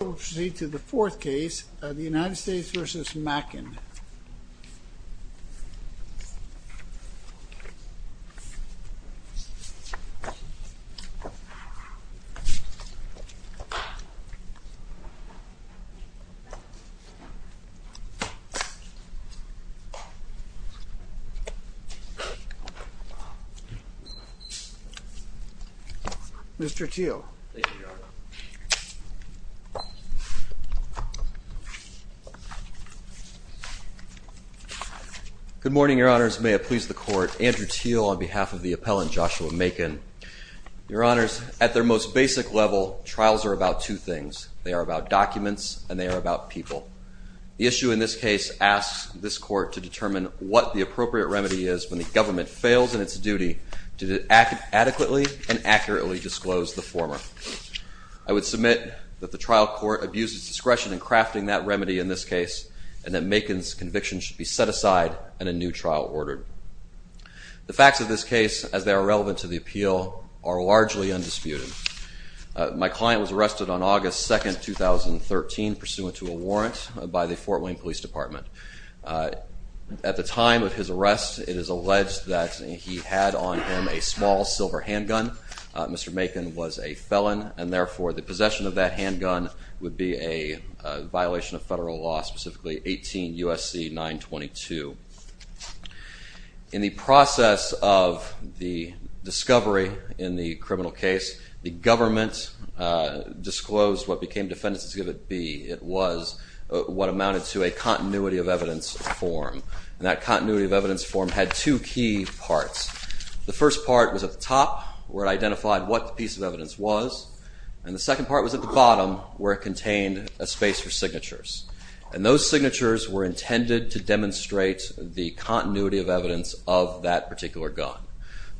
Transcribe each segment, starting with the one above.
We'll proceed to the fourth case, the United States v. Mackin. Mr. Teel. Good morning, your honors. May it please the court. Andrew Teel on behalf of the appellant, Joshua Mackin. Your honors, at their most basic level, trials are about two things. They are about documents and they are about people. The issue in this case asks this court to determine what the appropriate remedy is when the government fails in its duty to adequately and accurately disclose the former. I would submit that the trial court abuses discretion in crafting that remedy in this case and that Mackin's conviction should be set aside and a new trial ordered. The facts of this case, as they are relevant to the appeal, are largely undisputed. My client was arrested on August 2, 2013, pursuant to a warrant by the Fort Wayne Police Department. At the time of his arrest, it is alleged that he had on him a small silver handgun. Mr. Mackin was a felon and therefore the possession of that handgun would be a violation of federal law, specifically 18 U.S.C. 922. In the process of the discovery in the criminal case, the government disclosed what became defendant's exhibit B. It was what amounted to a continuity of evidence form and that continuity of evidence form had two key parts. The first part was at the top where it identified what the piece of evidence was and the second part was at the bottom where it contained a space for signatures. And those signatures were intended to demonstrate the continuity of evidence of that particular gun.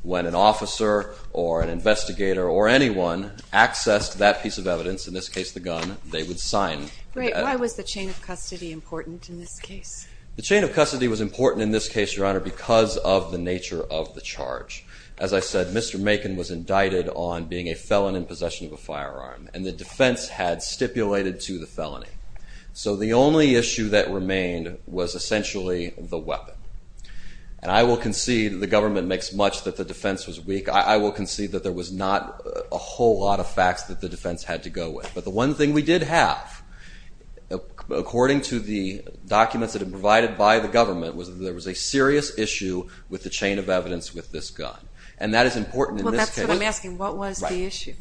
When an officer or an investigator or anyone accessed that piece of evidence, in this case the gun, they would sign. Why was the chain of custody important in this case? The chain of custody was important in this case, Your Honor, because of the nature of the charge. As I said, Mr. Mackin was indicted on being a felon in possession of a firearm and the defense had stipulated to the felony. So the only issue that remained was essentially the weapon. And I will concede the government makes much that the defense was weak. I will concede that there was not a whole lot of facts that the defense had to go with. But the one thing we did have, according to the documents that had been provided by the government, was that there was a serious issue with the chain of evidence with this gun. And that is important in this case. Well, that's what I'm asking. What was the issue?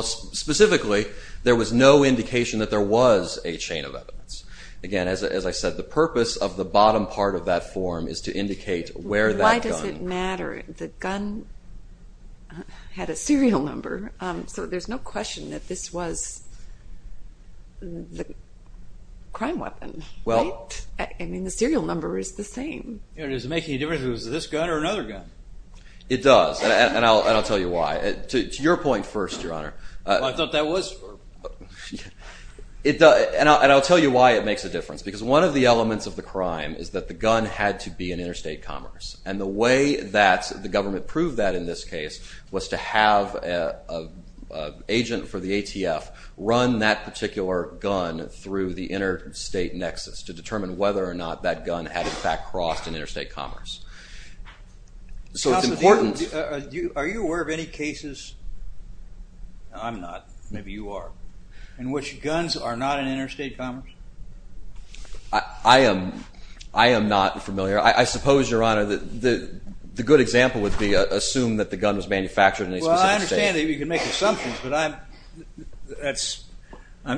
Specifically, there was no indication that there was a chain of evidence. Again, as I said, the purpose of the bottom part of that form is to indicate where that gun... Why does it matter? The gun had a serial number, so there's no question that this was the crime weapon, right? Well... I mean, the serial number is the same. It doesn't make any difference if it was this gun or another gun. It does, and I'll tell you why. To your point first, Your Honor... I thought that was... And I'll tell you why it makes a difference. Because one of the elements of the crime is that the gun had to be an interstate commerce. And the way that the government proved that in this case was to have an agent for the ATF run that particular gun through the interstate nexus to determine whether or not that gun had, in fact, crossed an interstate commerce. So it's important... Counsel, are you aware of any cases... I'm not. Maybe you are. In which guns are not an interstate commerce? I am not familiar. I suppose, Your Honor, that the good example would be assume that the gun was manufactured in a specific state. Well, I understand that you can make assumptions, but I'm... That's...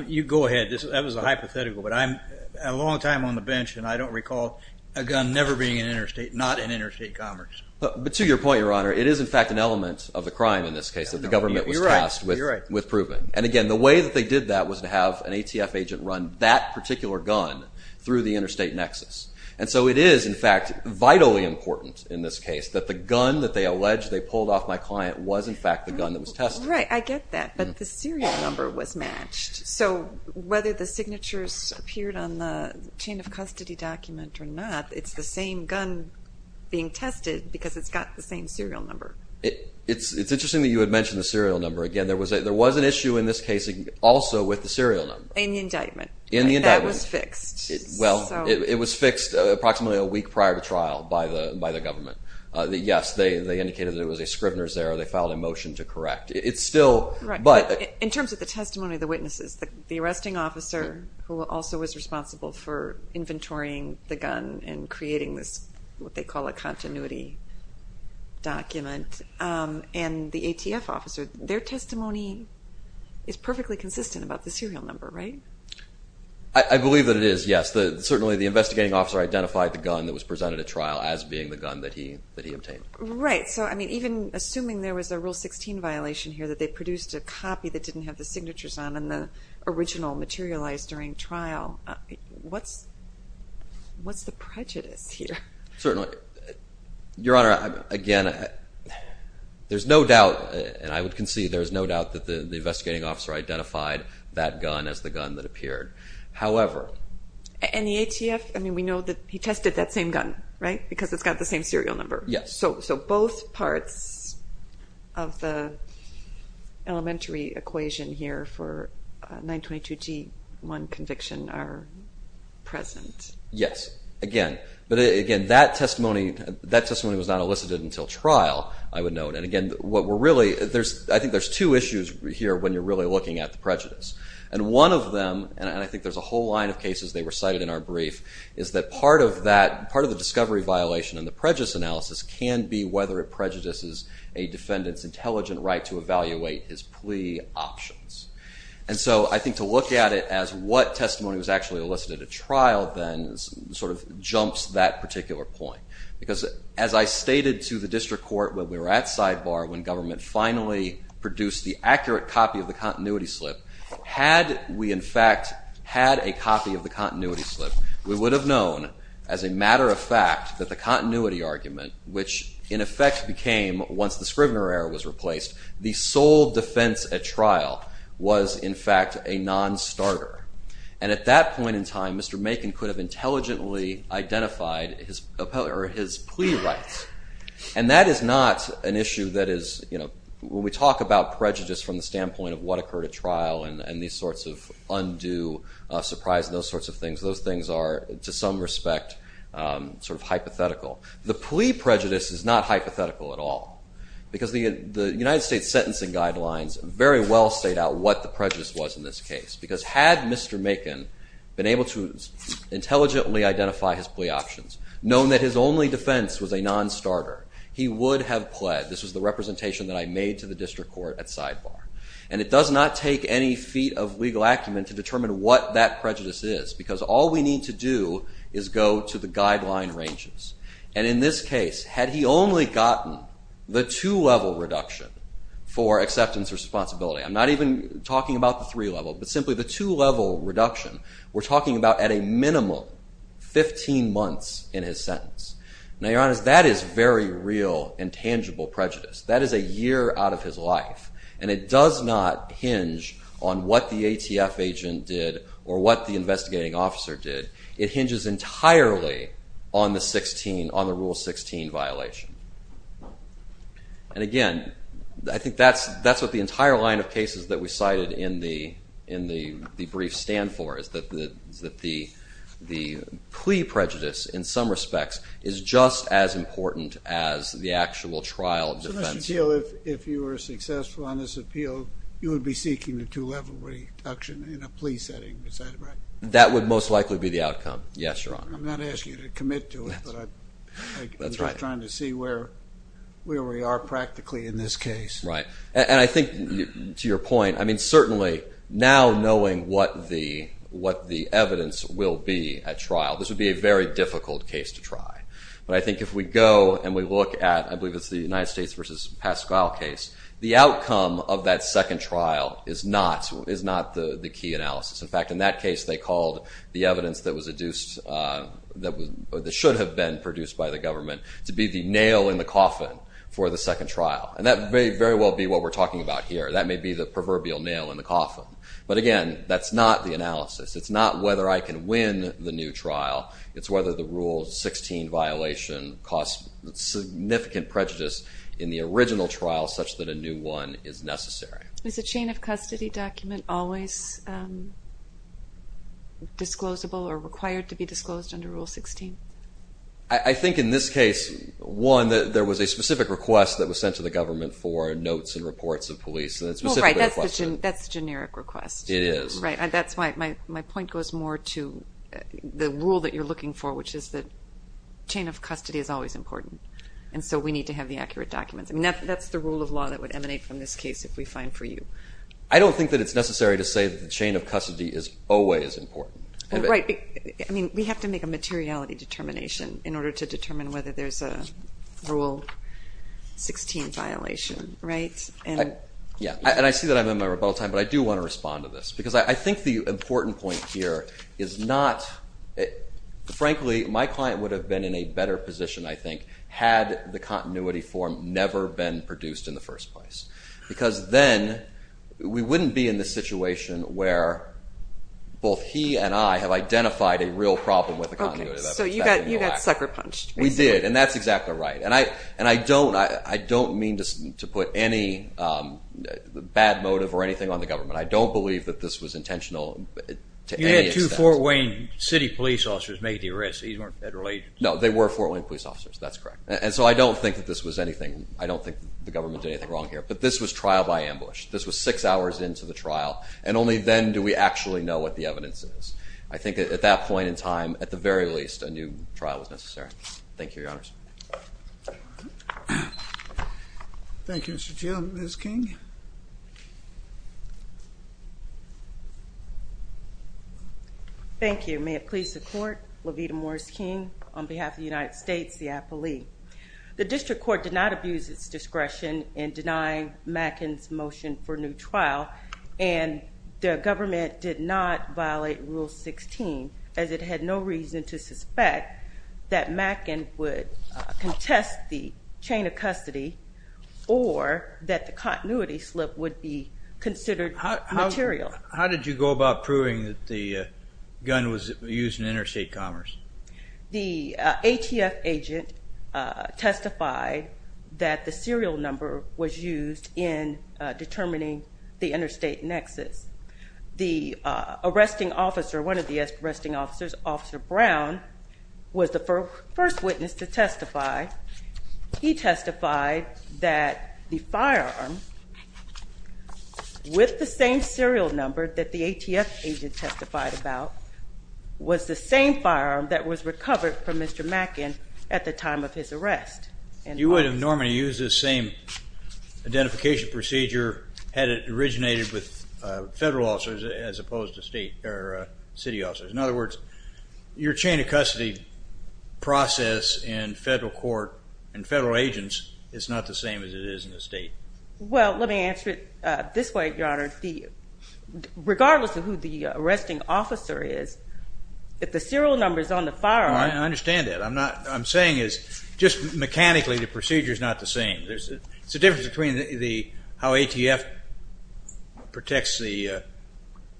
You go ahead. That was a hypothetical. But I'm a long time on the bench, and I don't recall a gun never being an interstate, not an interstate commerce. But to your point, Your Honor, it is, in fact, an element of the crime in this case that the government was tasked with proving. And again, the way that they did that was to have an ATF agent run that particular gun through the interstate nexus. And so it is, in fact, vitally important in this case that the gun that they alleged they pulled off my client was, in fact, the gun that was tested. Right. I get that. But the serial number was matched. So whether the signatures appeared on the chain of custody document or not, it's the same gun being tested because it's got the same serial number. It's interesting that you had mentioned the serial number. Again, there was an issue in this case also with the serial number. In the indictment. In the indictment. That was fixed. Well, it was fixed approximately a week prior to trial by the government. Yes, they indicated that it was a Scribner's error. They filed a motion to correct. It's still... In terms of the testimony of the witnesses, the arresting officer, who also was responsible for inventorying the gun and creating this, what they call a continuity document, and the ATF officer, their testimony is perfectly consistent about the serial number, right? I believe that it is, yes. Certainly the investigating officer identified the gun that was presented at trial as being the gun that he obtained. Right. So, I mean, even assuming there was a Rule 16 violation here that they produced a copy that didn't have the signatures on and the original materialized during trial, what's the prejudice here? Certainly. Your Honor, again, there's no doubt, and I would concede there's no doubt that the investigating officer identified that gun as the gun that appeared. However... And the ATF, I mean, we know that he tested that same gun, right? Because it's got the same serial number. Yes. So both parts of the elementary equation here for 922G1 conviction are present. Yes. Again, that testimony was not elicited until trial, I would note. And again, what we're really... I think there's two issues here when you're really looking at the prejudice. And one of them, and I think there's a whole line of cases they recited in our brief, is that part of that, part of the discovery violation and the prejudice analysis can be whether it prejudices a defendant's intelligent right to evaluate his plea options. And so I think to look at it as what testimony was actually elicited at trial then sort of jumps that particular point. Because as I stated to the district court when we were at sidebar, when government finally produced the accurate copy of the continuity slip, had we in fact had a copy of the continuity slip, we would have known as a matter of fact that the continuity argument, which in effect became, once the Scrivener error was replaced, the sole defense at trial was in fact a non-starter. And at that point in time, Mr. Macon could have intelligently identified his plea rights. And that is not an issue that is... When we talk about prejudice from the standpoint of what occurred at trial and these sorts of undue surprise and those sorts of things, those things are, to some respect, sort of hypothetical. The plea prejudice is not hypothetical at all. Because the United States sentencing guidelines very well state out what the prejudice was in this case. Because had Mr. Macon been able to intelligently identify his plea options, known that his only defense was a non-starter, he would have pled. This was the representation that I made to the district court at sidebar. And it does not take any feat of legal acumen to determine what that prejudice is. Because all we need to do is go to the guideline ranges. And in this case, had he only gotten the two-level reduction for acceptance or responsibility, I'm not even talking about the three-level, but simply the two-level reduction, we're talking about at a minimum 15 months in his sentence. Now, your Honor, that is very real and tangible prejudice. That is a year out of his life. And it does not hinge on what the ATF agent did or what the investigating officer did. It hinges entirely on the Rule 16 violation. And, again, I think that's what the entire line of cases that we cited in the brief stand for, is that the plea prejudice, in some respects, is just as important as the actual trial of defense. So, Mr. Teel, if you were successful on this appeal, you would be seeking the two-level reduction in a plea setting, is that right? That would most likely be the outcome, yes, Your Honor. I'm not asking you to commit to it, but I'm just trying to see where we are practically in this case. Right. And I think, to your point, I mean, certainly, now knowing what the evidence will be at trial, this would be a very difficult case to try. But I think if we go and we look at, I believe it's the United States v. Pascal case, the outcome of that second trial is not the key analysis. In fact, in that case, they called the evidence that should have been produced by the government to be the nail in the coffin for the second trial. And that may very well be what we're talking about here. That may be the proverbial nail in the coffin. But, again, that's not the analysis. It's not whether I can win the new trial. It's whether the Rule 16 violation caused significant prejudice in the original trial such that a new one is necessary. Is a chain of custody document always disclosable or required to be disclosed under Rule 16? I think in this case, one, that there was a specific request that was sent to the government for notes and reports of police. Well, right, that's the generic request. It is. Right, and that's why my point goes more to the rule that you're looking for, which is that chain of custody is always important. And so we need to have the accurate documents. That's the rule of law that would emanate from this case if we find for you. I don't think that it's necessary to say that the chain of custody is always important. Right. I mean, we have to make a materiality determination in order to determine whether there's a Rule 16 violation, right? Yeah, and I see that I'm in my rebuttal time, but I do want to respond to this because I think the important point here is not, frankly, my client would have been in a better position, I think, had the continuity form never been produced in the first place. Because then we wouldn't be in the situation where both he and I have identified a real problem with the continuity. Okay, so you got sucker-punched. We did, and that's exactly right. And I don't mean to put any bad motive or anything on the government. I don't believe that this was intentional to any extent. You had two Fort Wayne City police officers make the arrest. These weren't federal agents. No, they were Fort Wayne police officers. That's correct. And so I don't think that this was anything. I don't think the government did anything wrong here. But this was trial by ambush. This was six hours into the trial, and only then do we actually know what the evidence is. I think at that point in time, at the very least, a new trial was necessary. Thank you, Your Honors. Thank you, Mr. Chiu. Ms. King? Thank you. Your Honor, may it please the Court, LaVita Morris King, on behalf of the United States, the appellee. The district court did not abuse its discretion in denying Mackin's motion for new trial, and the government did not violate Rule 16, as it had no reason to suspect that Mackin would contest the chain of custody or that the continuity slip would be considered material. How did you go about proving that the gun was used in interstate commerce? The ATF agent testified that the serial number was used in determining the interstate nexus. The arresting officer, one of the arresting officers, Officer Brown, was the first witness to testify. He testified that the firearm, with the same serial number that the ATF agent testified about, was the same firearm that was recovered from Mr. Mackin at the time of his arrest. You would have normally used this same identification procedure had it originated with federal officers as opposed to state or city officers. In other words, your chain of custody process in federal court and federal agents is not the same as it is in the state. Well, let me answer it this way, Your Honor. Regardless of who the arresting officer is, if the serial number is on the firearm... I understand that. What I'm saying is, just mechanically, the procedure is not the same. It's the difference between how ATF protects the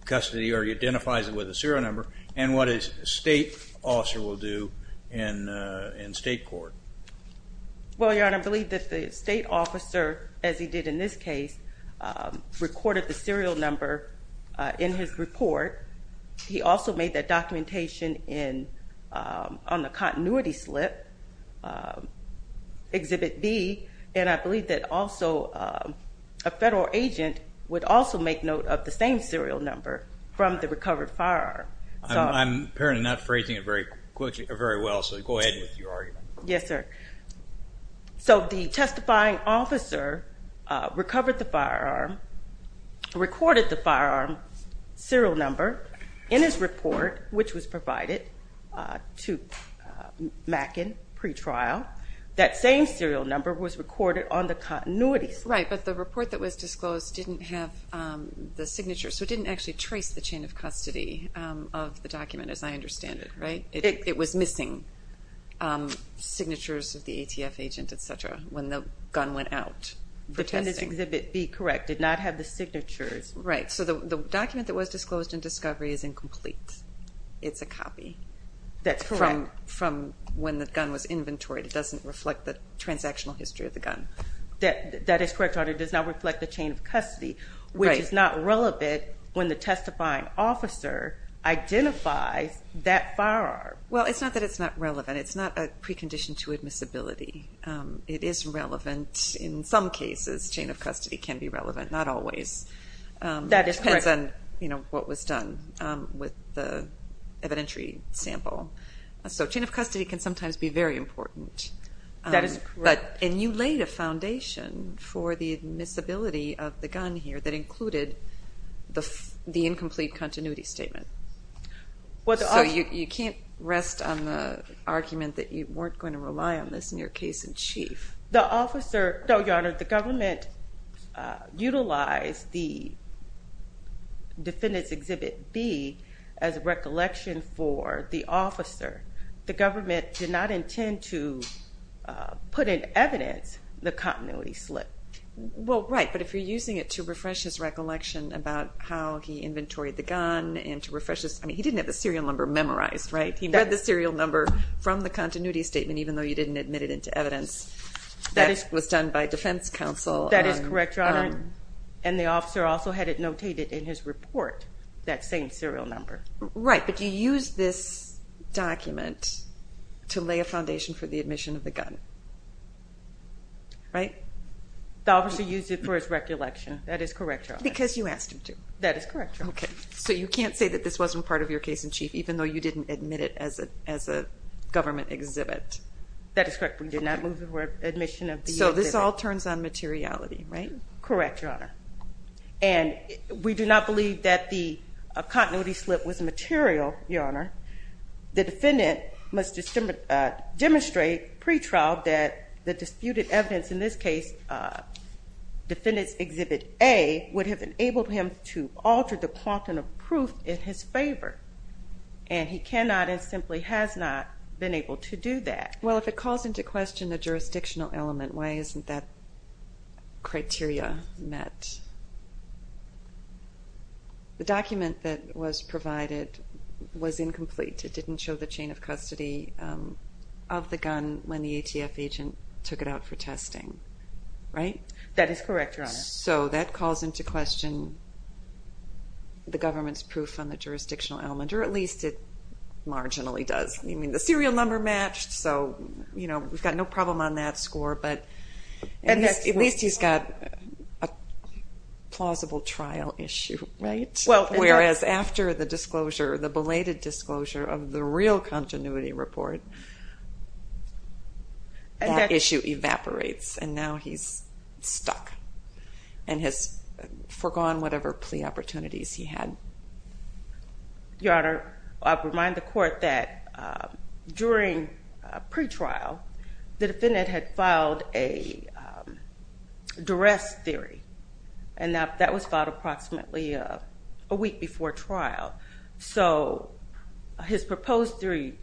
custody or identifies it with a serial number and what a state officer will do in state court. Well, Your Honor, I believe that the state officer, as he did in this case, recorded the serial number in his report. He also made that documentation on the continuity slip, Exhibit B, and I believe that also a federal agent would also make note of the same serial number from the recovered firearm. I'm apparently not phrasing it very well, so go ahead with your argument. Yes, sir. So the testifying officer recovered the firearm, recorded the firearm serial number in his report, which was provided to Mackin pretrial. That same serial number was recorded on the continuity slip. Right, but the report that was disclosed didn't have the signature, so it didn't actually trace the chain of custody of the document, as I understand it, right? It was missing signatures of the ATF agent, et cetera, when the gun went out for testing. Exhibit B, correct, did not have the signatures. Right. So the document that was disclosed in discovery is incomplete. It's a copy. That's correct. From when the gun was inventoried. It doesn't reflect the transactional history of the gun. That is correct, Your Honor. It does not reflect the chain of custody, which is not relevant when the testifying officer identifies that firearm. Well, it's not that it's not relevant. It's not a precondition to admissibility. It is relevant in some cases. Chain of custody can be relevant, not always. That is correct. It depends on what was done with the evidentiary sample. So chain of custody can sometimes be very important. That is correct. And you laid a foundation for the admissibility of the gun here that included the incomplete continuity statement. So you can't rest on the argument that you weren't going to rely on this in your case in chief. No, Your Honor. The government utilized the defendant's Exhibit B as a recollection for the officer. The government did not intend to put in evidence the continuity slip. Well, right, but if you're using it to refresh his recollection about how he inventoried the gun and to refresh his, I mean, he didn't have the serial number memorized, right? He read the serial number from the continuity statement, even though you didn't admit it into evidence. That was done by defense counsel. That is correct, Your Honor. And the officer also had it notated in his report, that same serial number. Right, but you used this document to lay a foundation for the admission of the gun, right? The officer used it for his recollection. That is correct, Your Honor. Because you asked him to. That is correct, Your Honor. Okay, so you can't say that this wasn't part of your case in chief, even though you didn't admit it as a government exhibit. That is correct. We did not move it for admission of the exhibit. So this all turns on materiality, right? Correct, Your Honor. And we do not believe that the continuity slip was material, Your Honor. The defendant must demonstrate pre-trial that the disputed evidence, in this case Defendant's Exhibit A, would have enabled him to alter the quantum of proof in his favor. And he cannot and simply has not been able to do that. Well, if it calls into question the jurisdictional element, why isn't that criteria met? The document that was provided was incomplete. It didn't show the chain of custody of the gun when the ATF agent took it out for testing, right? That is correct, Your Honor. So that calls into question the government's proof on the jurisdictional element, or at least it marginally does. I mean, the serial number matched, so we've got no problem on that score, but at least he's got a plausible trial issue, right? Whereas after the belated disclosure of the real continuity report, that issue evaporates, and now he's stuck and has forgone whatever plea opportunities he had. Your Honor, I'll remind the court that during pretrial, the defendant had filed a duress theory, and that was filed approximately a week before trial. So his proposed theory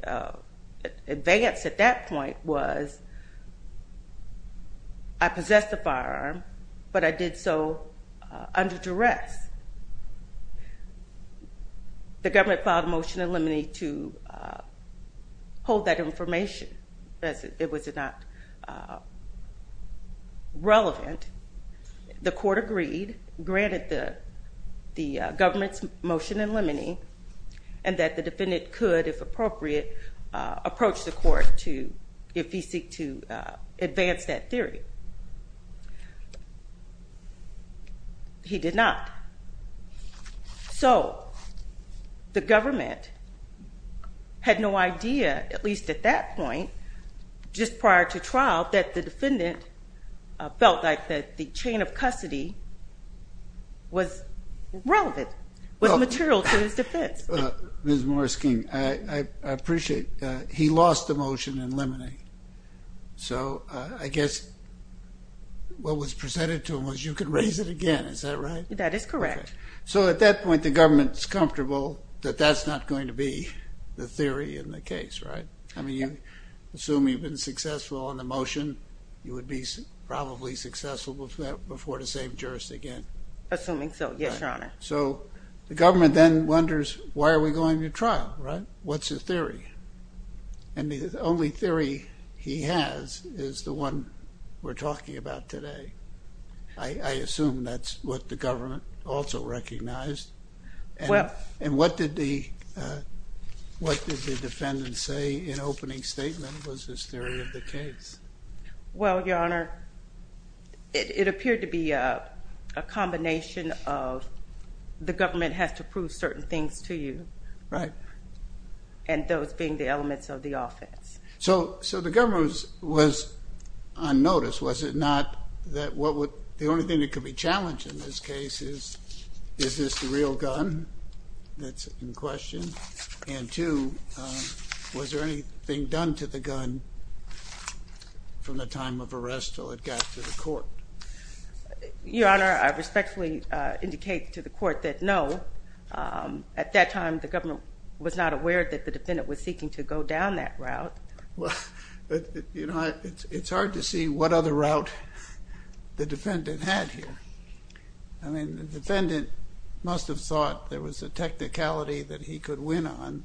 advance at that point was, I possess the firearm, but I did so under duress. The government filed a motion in limine to hold that information, as it was not relevant. The court agreed, granted the government's motion in limine, and that the defendant could, if appropriate, approach the court if he seek to advance that theory. He did not. So the government had no idea, at least at that point, just prior to trial, that the defendant felt like the chain of custody was relevant, was material to his defense. Ms. Morris-King, I appreciate. He lost the motion in limine, so I guess what was presented to him was, you can raise it again. Is that right? That is correct. So at that point, the government's comfortable that that's not going to be the theory in the case, right? I mean, you assume you've been successful on the motion. You would be probably successful before the same jurist again. Assuming so, yes, Your Honor. So the government then wonders, why are we going to trial, right? What's the theory? And the only theory he has is the one we're talking about today. I assume that's what the government also recognized. And what did the defendant say in opening statement was his theory of the case? Well, Your Honor, it appeared to be a combination of the government has to prove certain things to you. Right. And those being the elements of the offense. So the government was on notice, was it not, that the only thing that could be challenged in this case is, is this the real gun that's in question? And two, was there anything done to the gun from the time of arrest till it got to the court? Your Honor, I respectfully indicate to the court that no. At that time, the government was not aware that the defendant was seeking to go down that route. Well, you know, it's hard to see what other route the defendant had here. I mean, the defendant must have thought there was a technicality that he could win on.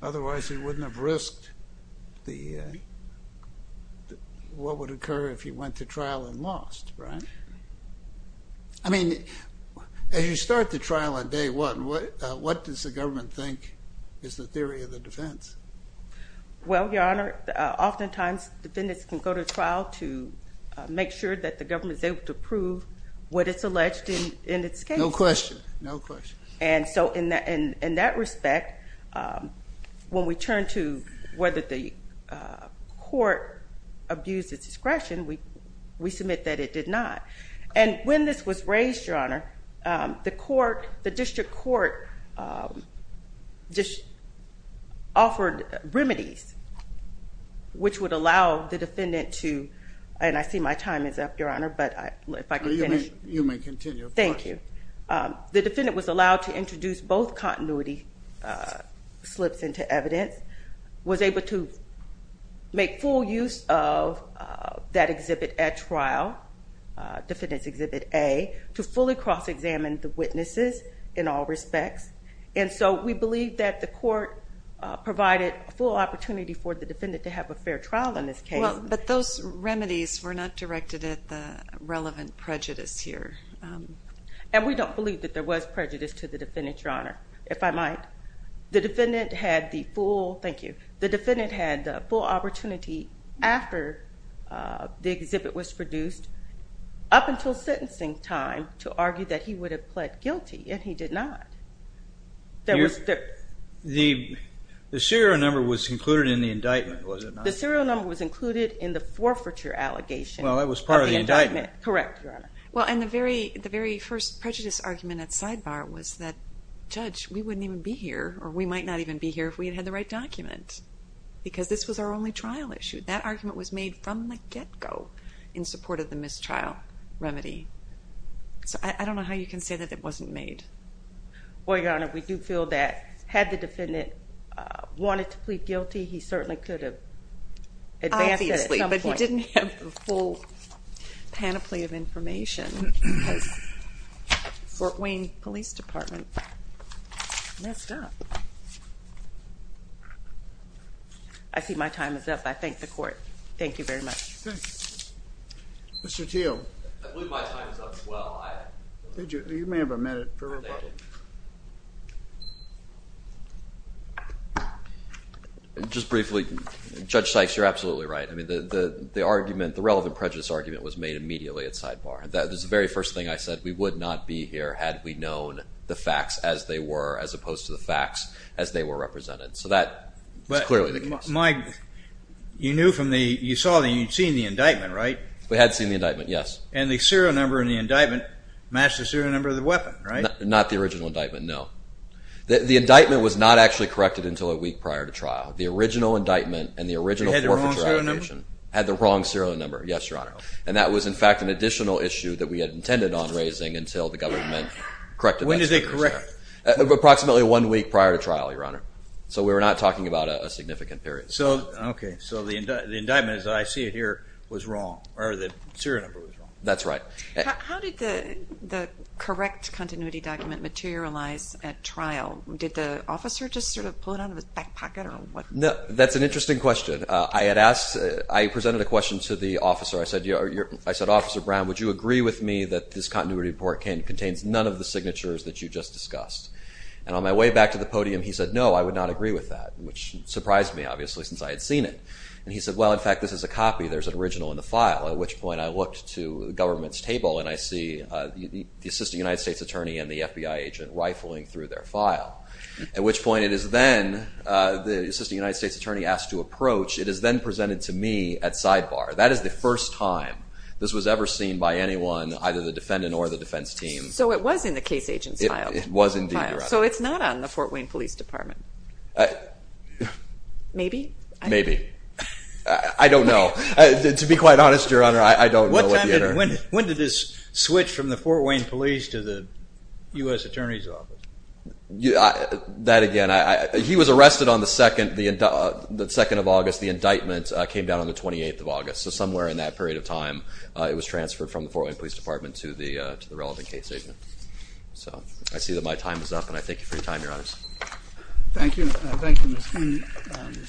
Otherwise, he wouldn't have risked what would occur if he went to trial and lost, right? I mean, as you start the trial on day one, what does the government think is the theory of the defense? Well, Your Honor, oftentimes defendants can go to trial to make sure that the government is able to prove what it's alleged in its case. No question. No question. And so in that respect, when we turn to whether the court abused its discretion, we submit that it did not. And when this was raised, Your Honor, the court, the district court, just offered remedies which would allow the defendant to, and I see my time is up, Your Honor, but if I could finish. You may continue. Thank you. The defendant was allowed to introduce both continuity slips into evidence, was able to make full use of that exhibit at trial, defendant's exhibit A, to fully cross-examine the witnesses in all respects. And so we believe that the court provided a full opportunity for the defendant to have a fair trial in this case. Well, but those remedies were not directed at the relevant prejudice here. And we don't believe that there was prejudice to the defendant, Your Honor, if I might. The defendant had the full opportunity after the exhibit was produced, up until sentencing time, to argue that he would have pled guilty, and he did not. The serial number was included in the indictment, was it not? The serial number was included in the forfeiture allegation of the indictment. Well, that was part of the indictment. Correct, Your Honor. Well, and the very first prejudice argument at sidebar was that, Judge, we wouldn't even be here, or we might not even be here if we had had the right document, because this was our only trial issue. That argument was made from the get-go in support of the mistrial remedy. So I don't know how you can say that it wasn't made. Well, Your Honor, we do feel that had the defendant wanted to plead guilty, he certainly could have advanced it at some point. Obviously, but he didn't have the full panoply of information, because the Fort Wayne Police Department messed up. I see my time is up. I thank the Court. Thank you very much. Thank you. Mr. Teel. I believe my time is up as well. You may have a minute for rebuttal. Thank you. Just briefly, Judge Sykes, you're absolutely right. I mean, the argument, the relevant prejudice argument was made immediately at sidebar. That was the very first thing I said, we would not be here had we known the facts as they were, as opposed to the facts as they were represented. So that is clearly the case. Mike, you knew from the, you saw the, you'd seen the indictment, right? We had seen the indictment, yes. And the serial number in the indictment matched the serial number of the weapon, right? Not the original indictment, no. The indictment was not actually corrected until a week prior to trial. The original indictment and the original forfeit trial had the wrong serial number, yes, Your Honor. And that was, in fact, an additional issue that we had intended on raising until the government corrected that. When did they correct it? Approximately one week prior to trial, Your Honor. So we were not talking about a significant period. Okay. So the indictment, as I see it here, was wrong, or the serial number was wrong. That's right. How did the correct continuity document materialize at trial? Did the officer just sort of pull it out of his back pocket or what? That's an interesting question. I had asked, I presented a question to the officer. I said, Officer Brown, would you agree with me that this continuity report contains none of the signatures that you just discussed? And on my way back to the podium, he said, no, I would not agree with that, which surprised me, obviously, since I had seen it. And he said, well, in fact, this is a copy. There's an original in the file. At which point I looked to the government's table, and I see the Assistant United States Attorney and the FBI agent rifling through their file, at which point it is then the Assistant United States Attorney asked to approach. It is then presented to me at sidebar. That is the first time this was ever seen by anyone, either the defendant or the defense team. So it was in the case agent's file. It was indeed. So it's not on the Fort Wayne Police Department. Maybe. Maybe. I don't know. To be quite honest, Your Honor, I don't know. When did this switch from the Fort Wayne Police to the U.S. Attorney's Office? That, again, he was arrested on the 2nd of August. The indictment came down on the 28th of August. So somewhere in that period of time, it was transferred from the Fort Wayne Police Department to the relevant case agent. So I see that my time is up, and I thank you for your time, Your Honor. Thank you. Thank you, Mr. Brown.